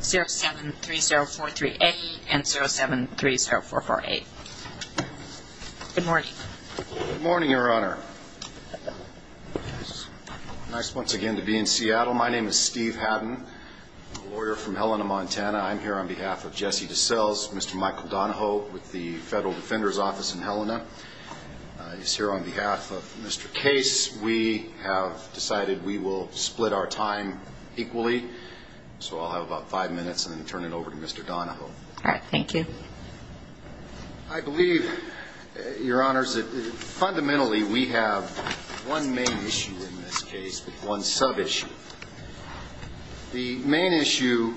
0730438 and 0730448. Good morning. Good morning, Your Honor. Nice once again to be in Seattle. My name is Steve Hadden, lawyer from Helena, Montana. I'm here on behalf of Jesse Decelles, Mr. Michael Donahoe with the Federal Defender's Office in Helena. I'm here on behalf of Mr. Donahoe. In this case, we have decided we will split our time equally, so I'll have about five minutes and then turn it over to Mr. Donahoe. All right. Thank you. I believe, Your Honors, that fundamentally we have one main issue in this case, one sub-issue. The main issue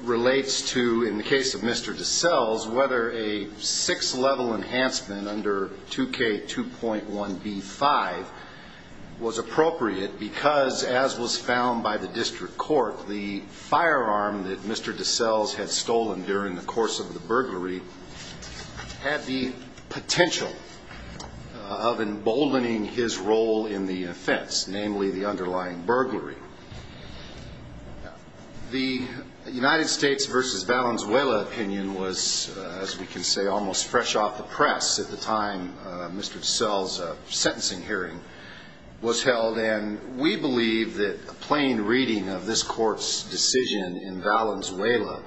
relates to, in the case of Mr. Decelles, whether a six-level enhancement under 2K2.1B5 was appropriate because, as was found by the district court, the firearm that Mr. Decelles had stolen during the course of the burglary had the potential of emboldening his role in the offense, namely the underlying burglary. The United States v. Valenzuela opinion was, as we can say, almost fresh off the press at the time Mr. Decelles' sentencing hearing was held, and we believe that a plain reading of this Court's decision in Valenzuela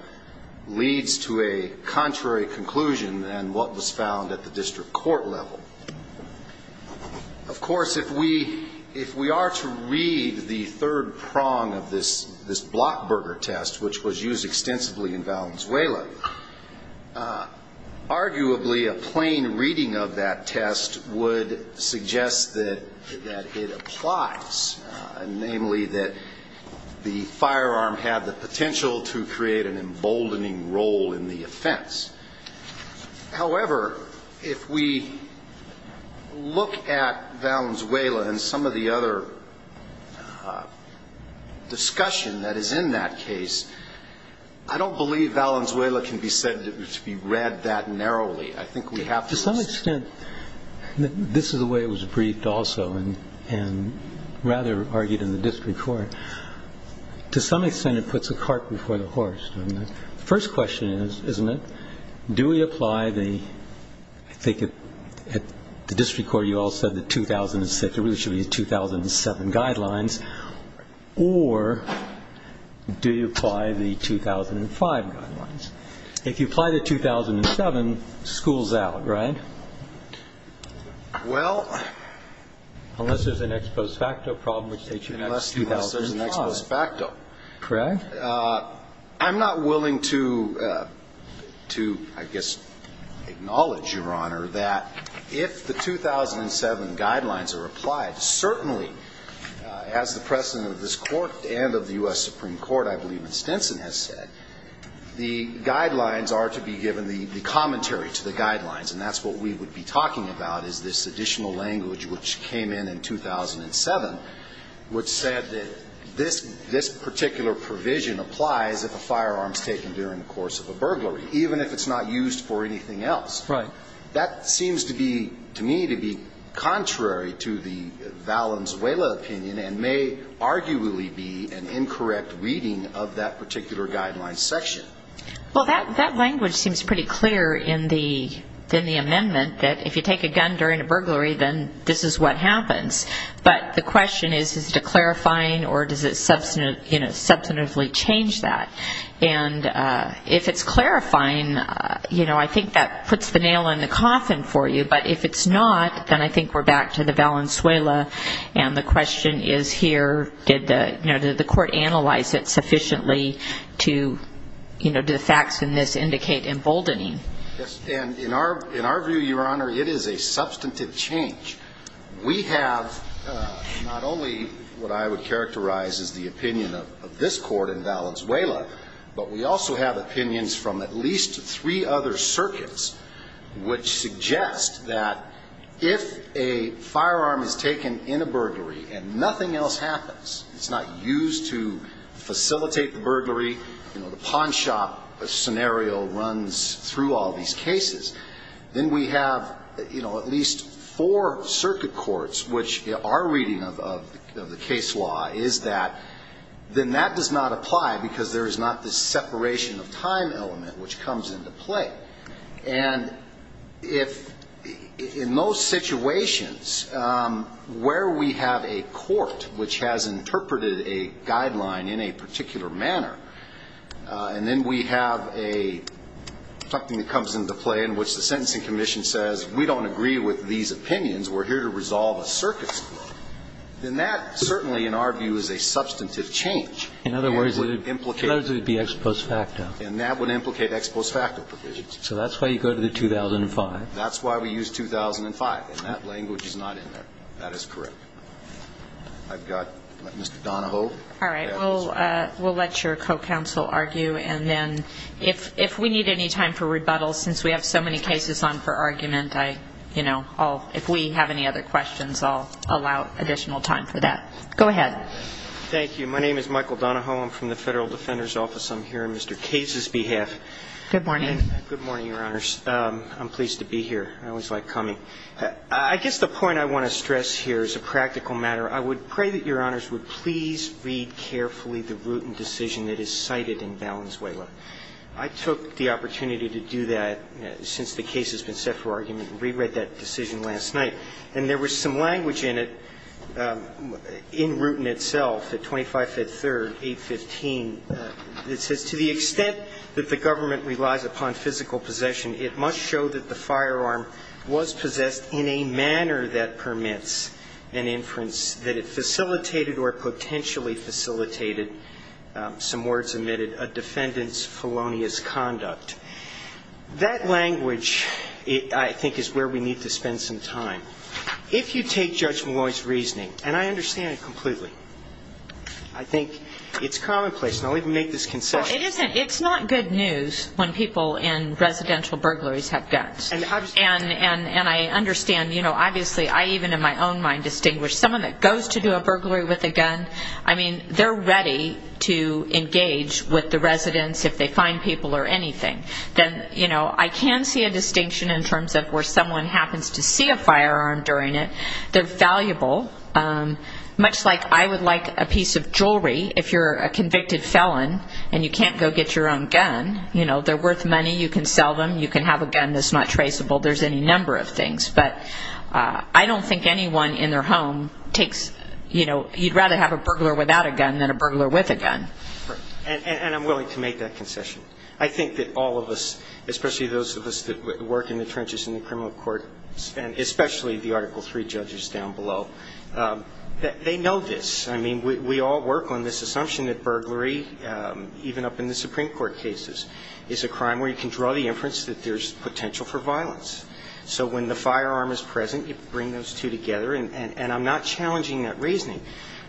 leads to a contrary conclusion than what was found at the district court level. Of course, if we are to read the third prong of this Blockburger test, which was used extensively in Valenzuela, arguably a plain reading of that test would suggest that it applies, namely that the firearm had the potential to create an emboldening role in the offense. However, if we look at Valenzuela and some of the other discussion that is in that case, I don't believe Valenzuela can be said to be read that narrowly. I think we have to... To some extent, this is the way it was briefed also, and rather argued in the district court, to some extent it puts a cart before the horse. The first question is, isn't it, do we apply the, I think at the district court you all said the 2006, it really should be the 2007 guidelines, or do you apply the 2005 guidelines? If you apply the 2007, school's out, right? Well... Unless there's an ex post facto problem which states you have 2005. Unless there's an ex post facto. Correct? I'm not willing to, I guess, acknowledge, Your Honor, that if the 2007 guidelines are applied, certainly, as the President of this Court and of the U.S. Supreme Court, I believe Stinson has said, the guidelines are to be given the commentary to the guidelines, and that's what we would be talking about is this additional language which came in in 2007, which said that this particular provision applies if a firearm's taken during the course of a burglary, even if it's not used for anything else. That seems to be, to me, to be contrary to the Valenzuela opinion, and may arguably be an incorrect reading of that particular guideline section. Well, that language seems pretty clear in the amendment, that if you take a gun during a burglary, then this is what happens. But the question is, is it a clarifying, or does it substantively change that? And if it's clarifying, you know, I think that puts the nail in the coffin for you. But if it's not, then I think we're back to the Valenzuela, and the question is here, did the Court analyze it sufficiently to, you know, do the facts in this indicate emboldening? Yes. And in our view, Your Honor, it is a substantive change. We have not only what I would characterize as the opinion of this Court in Valenzuela, but we also have opinions from at least three other circuits which suggest that if a firearm is taken in a burglary and nothing else happens, it's not used to facilitate the burglary, you know, the pawn shop scenario runs through all these cases, then we have, you know, at least four circuit courts, which our reading of the case law is that then that does not apply because there is not this separation of time element which comes into play. And if, in most situations, where we have a court which has interpreted a guideline in a particular manner, and then we have a, something that comes into play in which the Sentencing Commission says we don't agree with these opinions, we're here to resolve a circuit's law, then that certainly in our view is a substantive change. In other words, it would be ex post facto. And that would implicate ex post facto provisions. So that's why you go to the 2005. That's why we use 2005. And that language is not in there. That is correct. I've got Mr. Donahoe. All right. We'll let your co-counsel argue, and then if we need any time for rebuttal since we have so many cases on for argument, I, you know, I'll, if we have any other questions, I'll allow additional time for that. Go ahead. Thank you. My name is Michael Donahoe. I'm from the Federal Defender's Office. I'm here on Mr. Case's behalf. Good morning. Good morning, Your Honors. I'm pleased to be here. I always like coming. I guess the point I want to stress here is a practical matter. I would pray that Your Honors would please read carefully the root and decision that is cited in Valenzuela. I took the opportunity to do that since the case has been set for argument and re-read that decision last night. And there was some language in it, in root in itself, at 25 Fifth Third, 815. It says, to the extent that the government relies upon physical possession, it must show that the firearm was possessed in a manner that permits an inference that it facilitated or potentially facilitated, some words omitted, a defendant's felonious conduct. That language, I think, is where we need to spend some time. If you take Judge Maloney's reasoning, and I understand it completely, I think it's commonplace, and I'll even make this concession. Well, it isn't. It's not good news when people in residential burglaries have guns. And I understand, you know, obviously, I even in my own mind distinguish someone that goes to do a burglary with a gun. I mean, they're ready to engage with the residents if they find people or anything. Then, you know, I can see a distinction in terms of where someone happens to see a firearm during it. They're valuable. Much like I would like a piece of jewelry if you're a convicted felon and you can't go get your own gun. You know, they're worth money. You can sell them. You can have a gun that's not traceable. There's any number of things. But I don't think anyone in their home takes, you know, you'd rather have a burglar without a gun than a burglar with a gun. And I'm willing to make that concession. I think that all of us, especially those of us that work in the trenches in the criminal court, and especially the Article III judges down below, they know this. I mean, we all work on this assumption that burglary, even up in the Supreme Court cases, is a crime where you can draw the inference that there's potential for violence. So when the firearm is present, you bring those two together. And I'm not challenging that reasoning.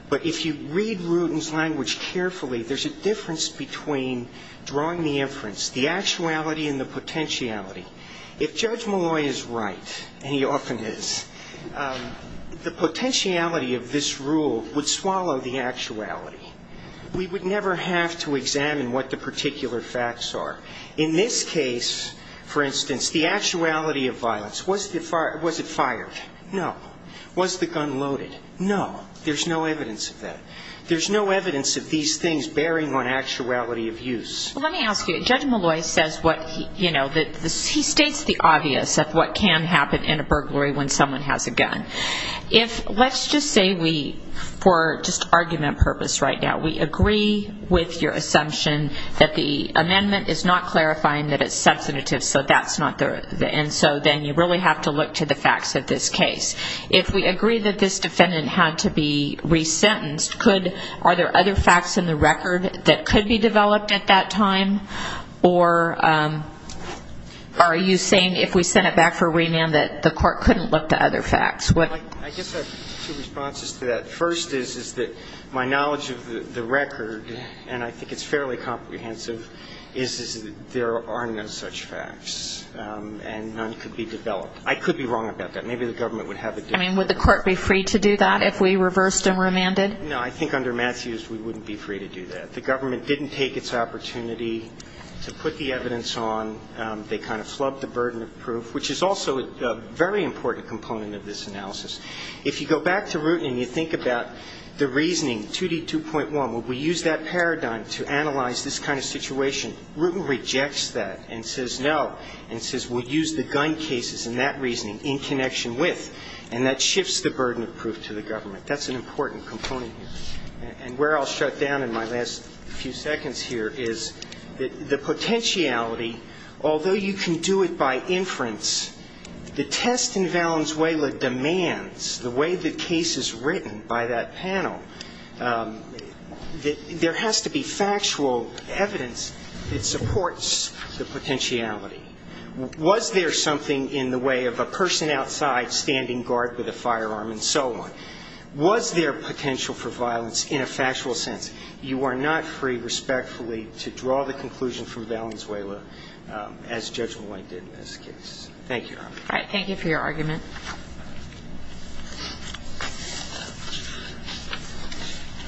But if you read Rudin's language carefully, there's a difference between drawing the inference, the actuality and the potentiality. If Judge Malloy is right, and he often is, the potentiality of this rule would swallow the actuality. We would never have to examine what the particular facts are. In this case, for instance, the actuality of violence, was it fired? No. Was the gun loaded? No. There's no evidence of that. There's no evidence of these things bearing on actuality of use. Well, let me ask you, Judge Malloy says what, you know, he states the obvious of what can happen in a burglary when someone has a gun. If, let's just say we, for just argument purpose right now, we agree with your assumption that the amendment is not clarifying that it's substantive, so that's not the, and so then you really have to look to the facts of this case. If we agree that this defendant had to be resentenced, could, are there other facts in the record that could be developed at that time? Or are you saying if we sent it back for remand that the court couldn't look to other facts? I guess I have two responses to that. First is that my knowledge of the record, and I think it's fairly comprehensive, is that there are no such facts, and none could be developed. I could be wrong about that. Maybe the government would have a different opinion. I mean, would the court be free to do that if we reversed and remanded? No, I think under Matthews we wouldn't be free to do that. The government didn't take its opportunity to put the evidence on. They kind of flubbed the burden of proof, which is also a very important component of this analysis. If you go back to Rutan and you think about the reasoning, 2D2.1, would we use that paradigm to analyze this kind of situation, Rutan rejects that and says no, and says we'll use the gun cases and that reasoning in connection with, and that shifts the burden of proof to the government. That's an important component here. And where I'll shut down in my last few seconds here is that the potentiality, although you can do it by inference, the test in Valenzuela demands, the way the case is written by that panel, that there has to be factual evidence that supports the potentiality. Was there something in the way of a person outside standing guard with a firearm and so on? Was there potential for violence in a factual sense? You are not free, respectfully, to draw the conclusion from Valenzuela as judgment-length in this case. Thank you, Your Honor. All right. Thank you for your argument.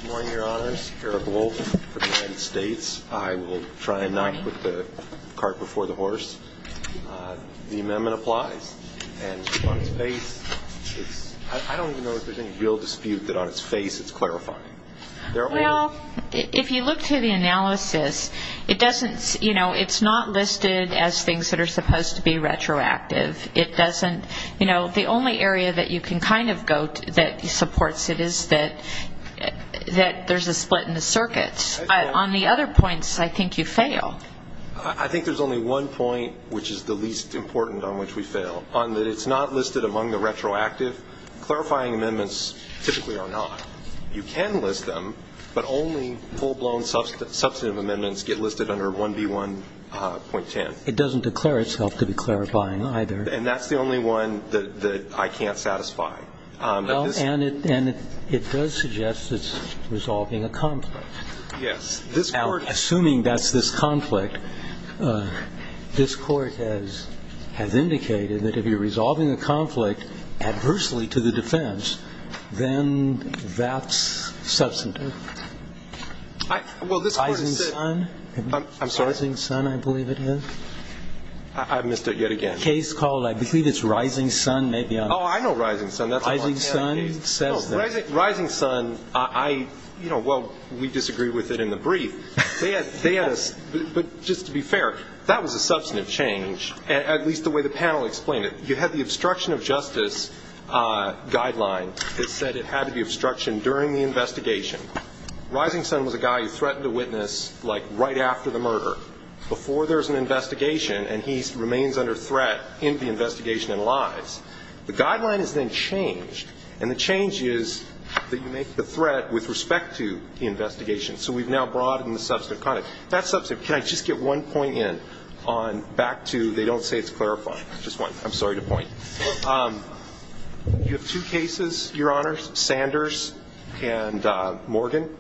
Good morning, Your Honors. Eric Wolf for the United States. I will try and not put the cart before the horse. The amendment applies. And on its face, I don't even know if there's any real dispute that on its face it's clarifying. Well, if you look through the analysis, it doesn't, you know, it's not listed as things that are supposed to be retroactive. It doesn't, you know, the only area that you can kind of go to that supports it is that there's a split in the circuits. On the other points, I think you fail. I think there's only one point which is the least important on which we fail, on that it's not listed among the retroactive. Clarifying amendments typically are not. You can list them, but only full-blown substantive amendments get listed under 1B1.10. It doesn't declare itself to be clarifying either. And that's the only one that I can't satisfy. Well, and it does suggest it's resolving a conflict. Yes. Now, assuming that's this conflict, this Court has indicated that if you're that's substantive. Well, this Court has said... Rising Sun? I'm sorry? Rising Sun, I believe it is. I've missed it yet again. Case called, I believe it's Rising Sun. Oh, I know Rising Sun. Rising Sun says that. Rising Sun, I, you know, well, we disagree with it in the brief. But just to be fair, that was a substantive change, at least the way the panel explained it. You had the obstruction of justice guideline that said it had to be obstruction during the investigation. Rising Sun was a guy who threatened to witness, like, right after the murder, before there's an investigation, and he remains under threat in the investigation and lies. The guideline is then changed, and the change is that you make the threat with respect to the investigation. So we've now broadened the substantive context. That's substantive. Can I just get one point in on back to they don't say it's clarifying. Just one. I'm sorry to point. You have two cases, Your Honors, Sanders and Morgan.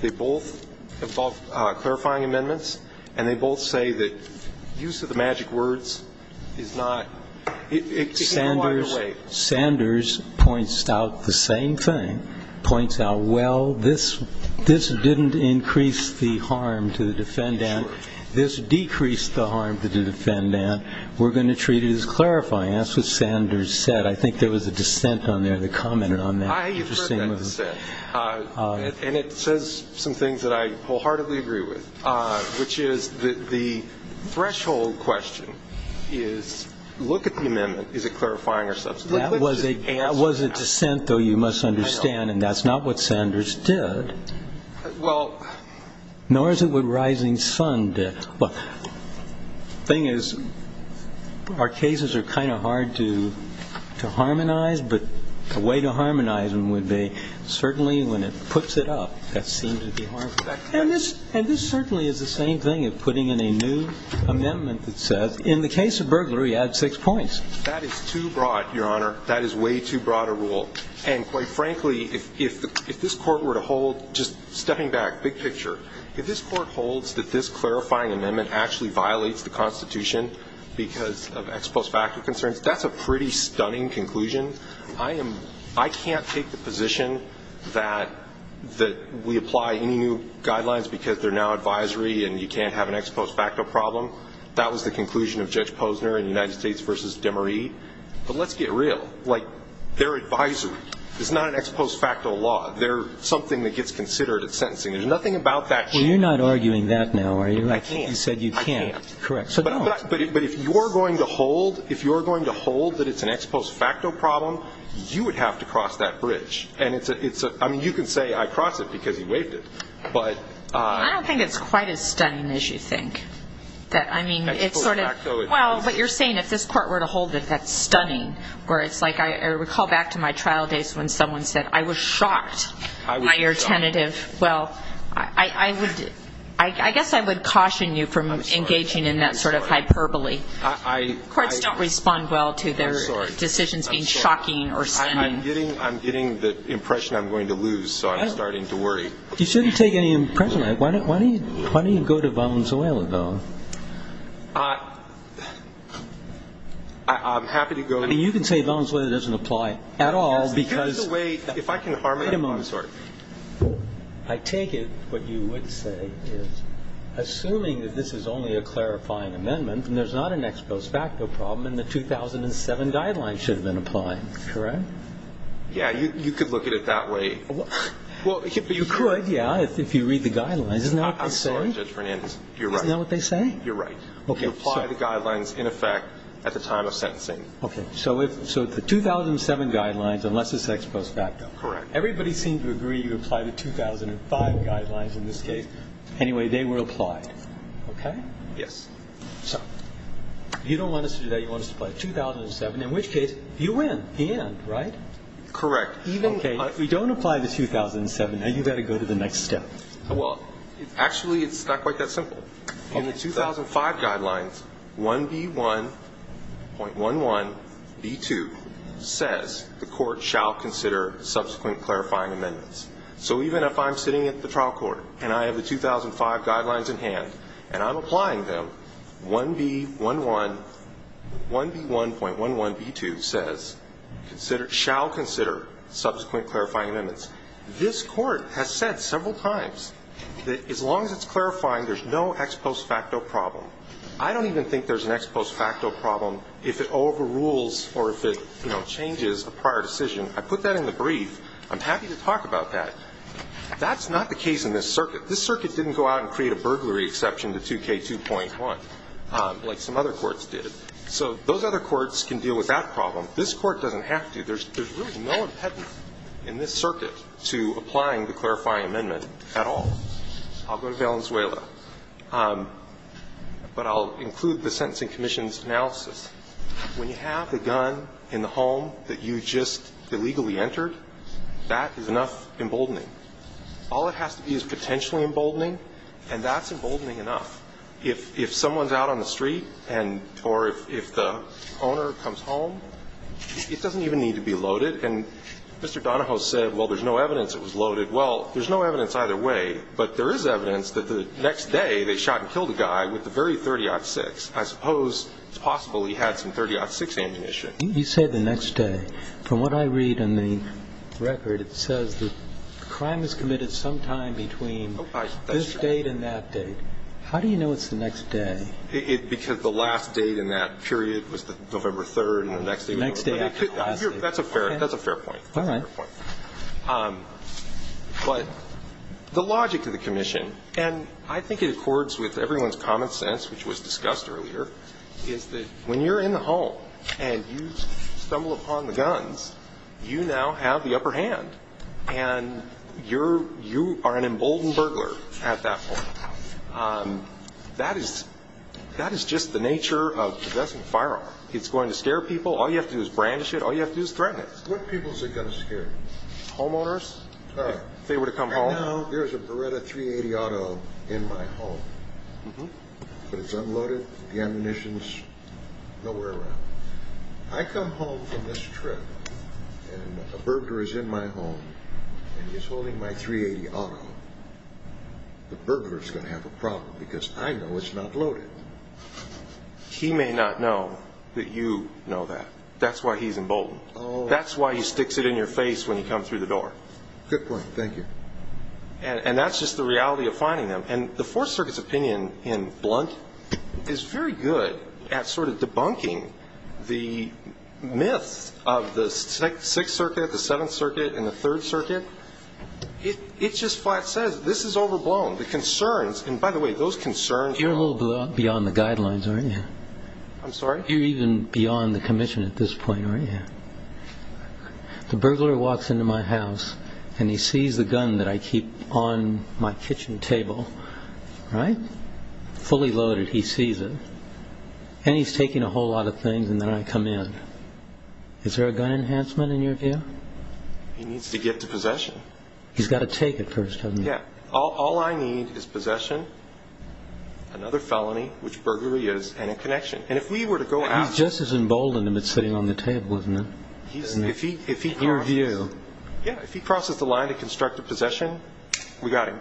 They both involve clarifying amendments, and they both say that use of the magic words is not ñ it can't be wired away. Sanders points out the same thing, points out, well, this didn't increase the harm to the defendant. This decreased the harm to the defendant. We're going to treat it as clarifying. That's what Sanders said. I think there was a dissent on there that commented on that. I heard that said, and it says some things that I wholeheartedly agree with, which is the threshold question is look at the amendment. Is it clarifying or substantive? That was a dissent, though, you must understand, and that's not what Sanders did. Well ñ Nor is it what Rising Sun did. Well, the thing is our cases are kind of hard to harmonize, but the way to harmonize them would be certainly when it puts it up, that seems to be harmful. And this certainly is the same thing as putting in a new amendment that says, in the case of burglary, add six points. That is too broad, Your Honor. That is way too broad a rule. And quite frankly, if this court were to hold ñ just stepping back, big picture. If this court holds that this clarifying amendment actually violates the Constitution because of ex post facto concerns, that's a pretty stunning conclusion. I am ñ I can't take the position that we apply any new guidelines because they're now advisory and you can't have an ex post facto problem. That was the conclusion of Judge Posner in United States v. DeMarie. But let's get real. Like, they're advisory. It's not an ex post facto law. They're something that gets considered at sentencing. There's nothing about that ñ Well, you're not arguing that now, are you? I can't. You said you can't. I can't. Correct. So don't. But if you're going to hold that it's an ex post facto problem, you would have to cross that bridge. And it's a ñ I mean, you can say I crossed it because he waived it. But ñ I don't think it's quite as stunning as you think. That, I mean, it's sort of ñ Ex post facto is ñ Well, but you're saying if this court were to hold it, that's stunning. Where it's like ñ I recall back to my trial days when someone said, I was shocked by your tentative ñ I was shocked. Well, I would ñ I guess I would caution you from engaging in that sort of hyperbole. I'm sorry. I'm sorry. Courts don't respond well to their decisions being shocking or stunning. I'm sorry. I'm getting the impression I'm going to lose, so I'm starting to worry. You shouldn't take any impression. Why don't you go to Valenzuela, though? I'm happy to go to ñ I mean, you can say Valenzuela doesn't apply at all because ñ If I can harmonize ñ Wait a moment. I'm sorry. I take it what you would say is, assuming that this is only a clarifying amendment and there's not an ex post facto problem, then the 2007 guidelines should have been applied, correct? Yeah. You could look at it that way. Well, you could, yeah, if you read the guidelines. Isn't that what they say? I'm sorry, Judge Fernandez. You're right. Isn't that what they say? You're right. You apply the guidelines in effect at the time of sentencing. Okay. So the 2007 guidelines, unless it's ex post facto. Correct. Everybody seemed to agree you apply the 2005 guidelines in this case. Anyway, they were applied, okay? Yes. So you don't want us to do that. You want us to apply 2007, in which case you win the end, right? Correct. Even if we don't apply the 2007, now you've got to go to the next step. Well, actually, it's not quite that simple. In the 2005 guidelines, 1B1.11B2 says the court shall consider subsequent clarifying amendments. So even if I'm sitting at the trial court and I have the 2005 guidelines in hand and I'm applying them, 1B1.11B2 says shall consider subsequent clarifying amendments. This court has said several times that as long as it's clarifying, there's no ex post facto problem. I don't even think there's an ex post facto problem if it overrules or if it, you know, changes a prior decision. I put that in the brief. I'm happy to talk about that. That's not the case in this circuit. This circuit didn't go out and create a burglary exception to 2K2.1, like some other courts did. So those other courts can deal with that problem. This court doesn't have to. There's really no impediment in this circuit to applying the clarifying amendment at all. I'll go to Valenzuela. But I'll include the Sentencing Commission's analysis. When you have a gun in the home that you just illegally entered, that is enough emboldening. All it has to be is potentially emboldening, and that's emboldening enough. If someone's out on the street and or if the owner comes home, it doesn't even need to be loaded. And Mr. Donahoe said, well, there's no evidence it was loaded. Well, there's no evidence either way. But there is evidence that the next day they shot and killed a guy with the very .30-06. I suppose it's possible he had some .30-06 ammunition. You say the next day. From what I read in the record, it says the crime was committed sometime between this date and that date. How do you know it's the next day? Because the last date in that period was November 3rd, and the next day was November 3rd. That's a fair point. All right. Fair point. But the logic of the commission, and I think it accords with everyone's common sense, which was discussed earlier, is that when you're in the home and you stumble upon the guns, you now have the upper hand. And you are an emboldened burglar at that point. That is just the nature of possessing a firearm. It's going to scare people. All you have to do is brandish it. All you have to do is threaten it. What people is it going to scare? Homeowners, if they were to come home. I know there's a Beretta 380 Auto in my home, but it's unloaded, the ammunition's nowhere around. I come home from this trip, and a burglar is in my home, and he's holding my 380 Auto. The burglar's going to have a problem because I know it's not loaded. He may not know that you know that. That's why he's emboldened. That's why he sticks it in your face when you come through the door. Good point. Thank you. And that's just the reality of finding them. And the Fourth Circuit's opinion, in blunt, is very good at sort of debunking the myths of the Sixth Circuit, the Seventh Circuit, and the Third Circuit. It just flat-says, this is overblown. The concerns, and by the way, those concerns. You're a little beyond the guidelines, aren't you? I'm sorry? You're even beyond the commission at this point, aren't you? The burglar walks into my house, and he sees the gun that I keep on my kitchen table, right? Fully loaded, he sees it. And he's taking a whole lot of things, and then I come in. Is there a gun enhancement in your view? He needs to get to possession. He's got to take it first, doesn't he? Yeah. All I need is possession, another felony, which burglary is, and a connection. And if we were to go after him. He's just as emboldened him as sitting on the table, isn't he? In your view. Yeah, if he crosses the line to construct a possession, we got him.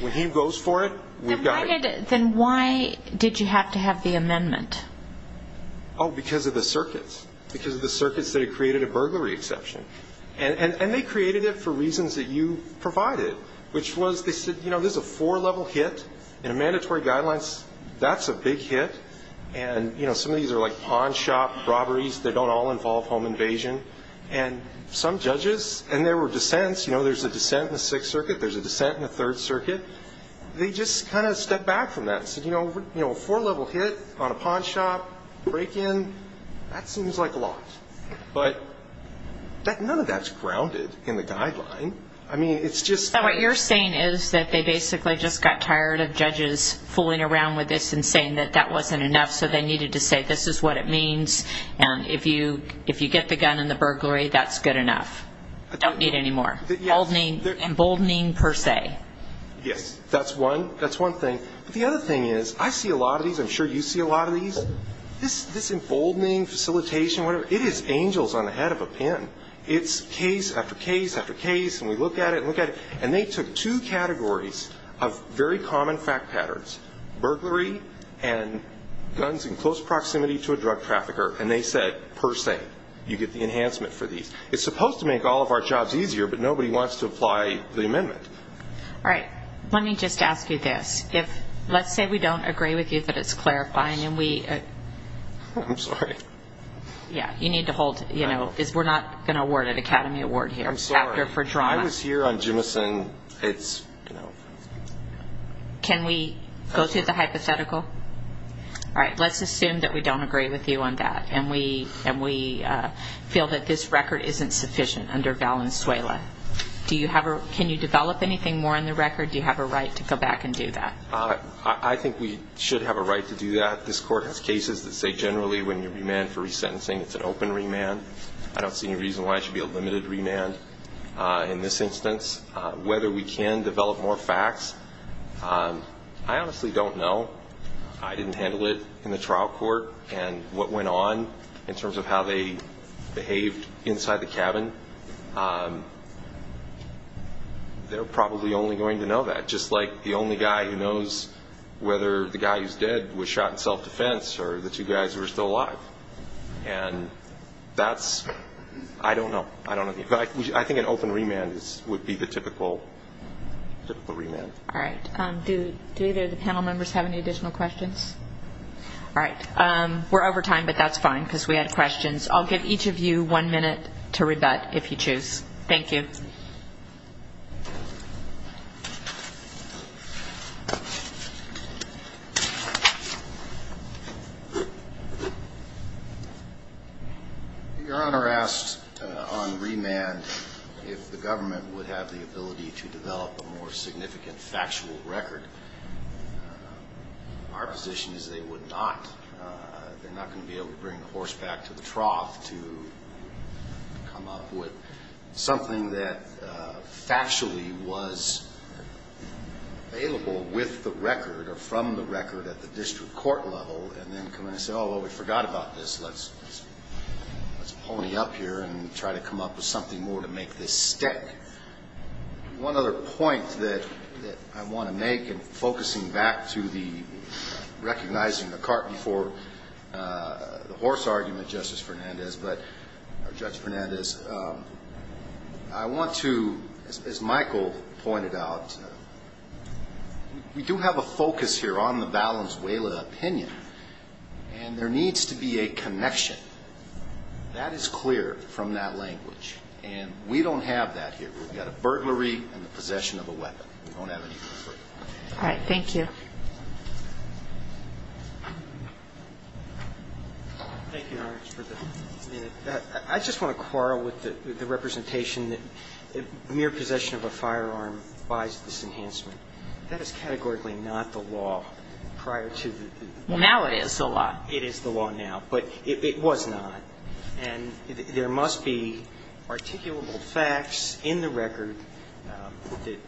When he goes for it, we've got him. Then why did you have to have the amendment? Oh, because of the circuits. Because of the circuits that had created a burglary exception. And they created it for reasons that you provided, which was they said, you know, this is a four-level hit, and a mandatory guideline, that's a big hit. And, you know, some of these are like pawn shop robberies. They don't all involve home invasion. And some judges, and there were dissents. You know, there's a dissent in the Sixth Circuit. There's a dissent in the Third Circuit. They just kind of stepped back from that and said, you know, a four-level hit on a pawn shop break-in, that seems like a lot. But none of that's grounded in the guideline. I mean, it's just. So what you're saying is that they basically just got tired of judges fooling around with this and saying that that wasn't enough, so they needed to say this is what it means, and if you get the gun in the burglary, that's good enough. Don't need any more. Emboldening per se. Yes, that's one thing. But the other thing is, I see a lot of these. I'm sure you see a lot of these. This emboldening facilitation, whatever, it is angels on the head of a pin. It's case after case after case, and we look at it and look at it. And they took two categories of very common fact patterns, burglary and guns in close proximity to a drug trafficker, and they said per se you get the enhancement for these. It's supposed to make all of our jobs easier, but nobody wants to apply the amendment. All right. Let me just ask you this. Let's say we don't agree with you that it's clarifying and we... I'm sorry. Yeah, you need to hold... We're not going to award an Academy Award here. I'm sorry. I was here on Jimison. It's, you know... Can we go to the hypothetical? All right. Let's assume that we don't agree with you on that and we feel that this record isn't sufficient under Valenzuela. Do you have a... Can you develop anything more in the record? Do you have a right to go back and do that? I think we should have a right to do that. This Court has cases that say generally when you remand for resentencing, it's an open remand. I don't see any reason why it should be a limited remand in this instance. Whether we can develop more facts, I honestly don't know. I didn't handle it in the trial court. And what went on in terms of how they behaved inside the cabin, they're probably only going to know that, just like the only guy who knows whether the guy who's dead was shot in self-defense or the two guys who are still alive. And that's... I don't know. I think an open remand would be the typical remand. All right. Do either of the panel members have any additional questions? All right. We're over time, but that's fine because we had questions. I'll give each of you one minute to rebut if you choose. Thank you. Your Honor asked on remand if the government would have the ability to develop a more significant factual record. Our position is they would not. They're not going to be able to bring the horse back to the trough to come up with something that factually was available with the record or from the record at the district court level, and then come in and say, oh, well, we forgot about this. Let's pony up here and try to come up with something more to make this stick. One other point that I want to make, and focusing back to the recognizing the cart before the horse argument, Justice Fernandez, or Judge Fernandez, I want to, as Michael pointed out, we do have a focus here on the Valenzuela opinion, and there needs to be a connection that is clear from that language. And we don't have that here. We've got a burglary and the possession of a weapon. We don't have anything further. All right. Thank you. Thank you, Your Honor. I just want to quarrel with the representation that mere possession of a firearm buys this enhancement. That is categorically not the law prior to the law. Well, now it is the law. It is the law now. But it was not. And there must be articulable facts in the record that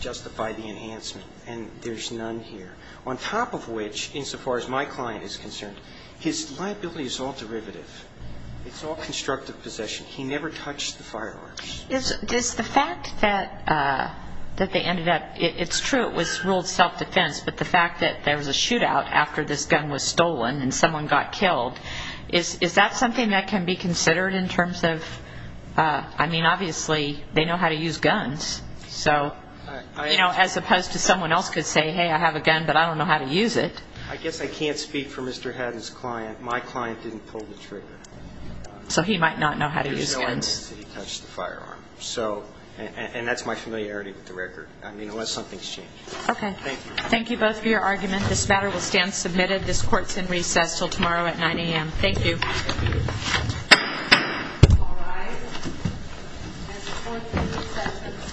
justify the enhancement, and there's none here. On top of which, insofar as my client is concerned, his liability is all derivative. It's all constructive possession. He never touched the firearms. Does the fact that they ended up, it's true it was ruled self-defense, but the fact that there was a shootout after this gun was stolen and someone got killed, is that something that can be considered in terms of, I mean, obviously they know how to use guns. So, you know, as opposed to someone else could say, hey, I have a gun, but I don't know how to use it. I guess I can't speak for Mr. Haddon's client. My client didn't pull the trigger. So he might not know how to use guns. And that's my familiarity with the record, I mean, unless something's changed. Okay. Thank you. Thank you both for your argument. This matter will stand submitted. This court's in recess until tomorrow at 9 a.m. Thank you.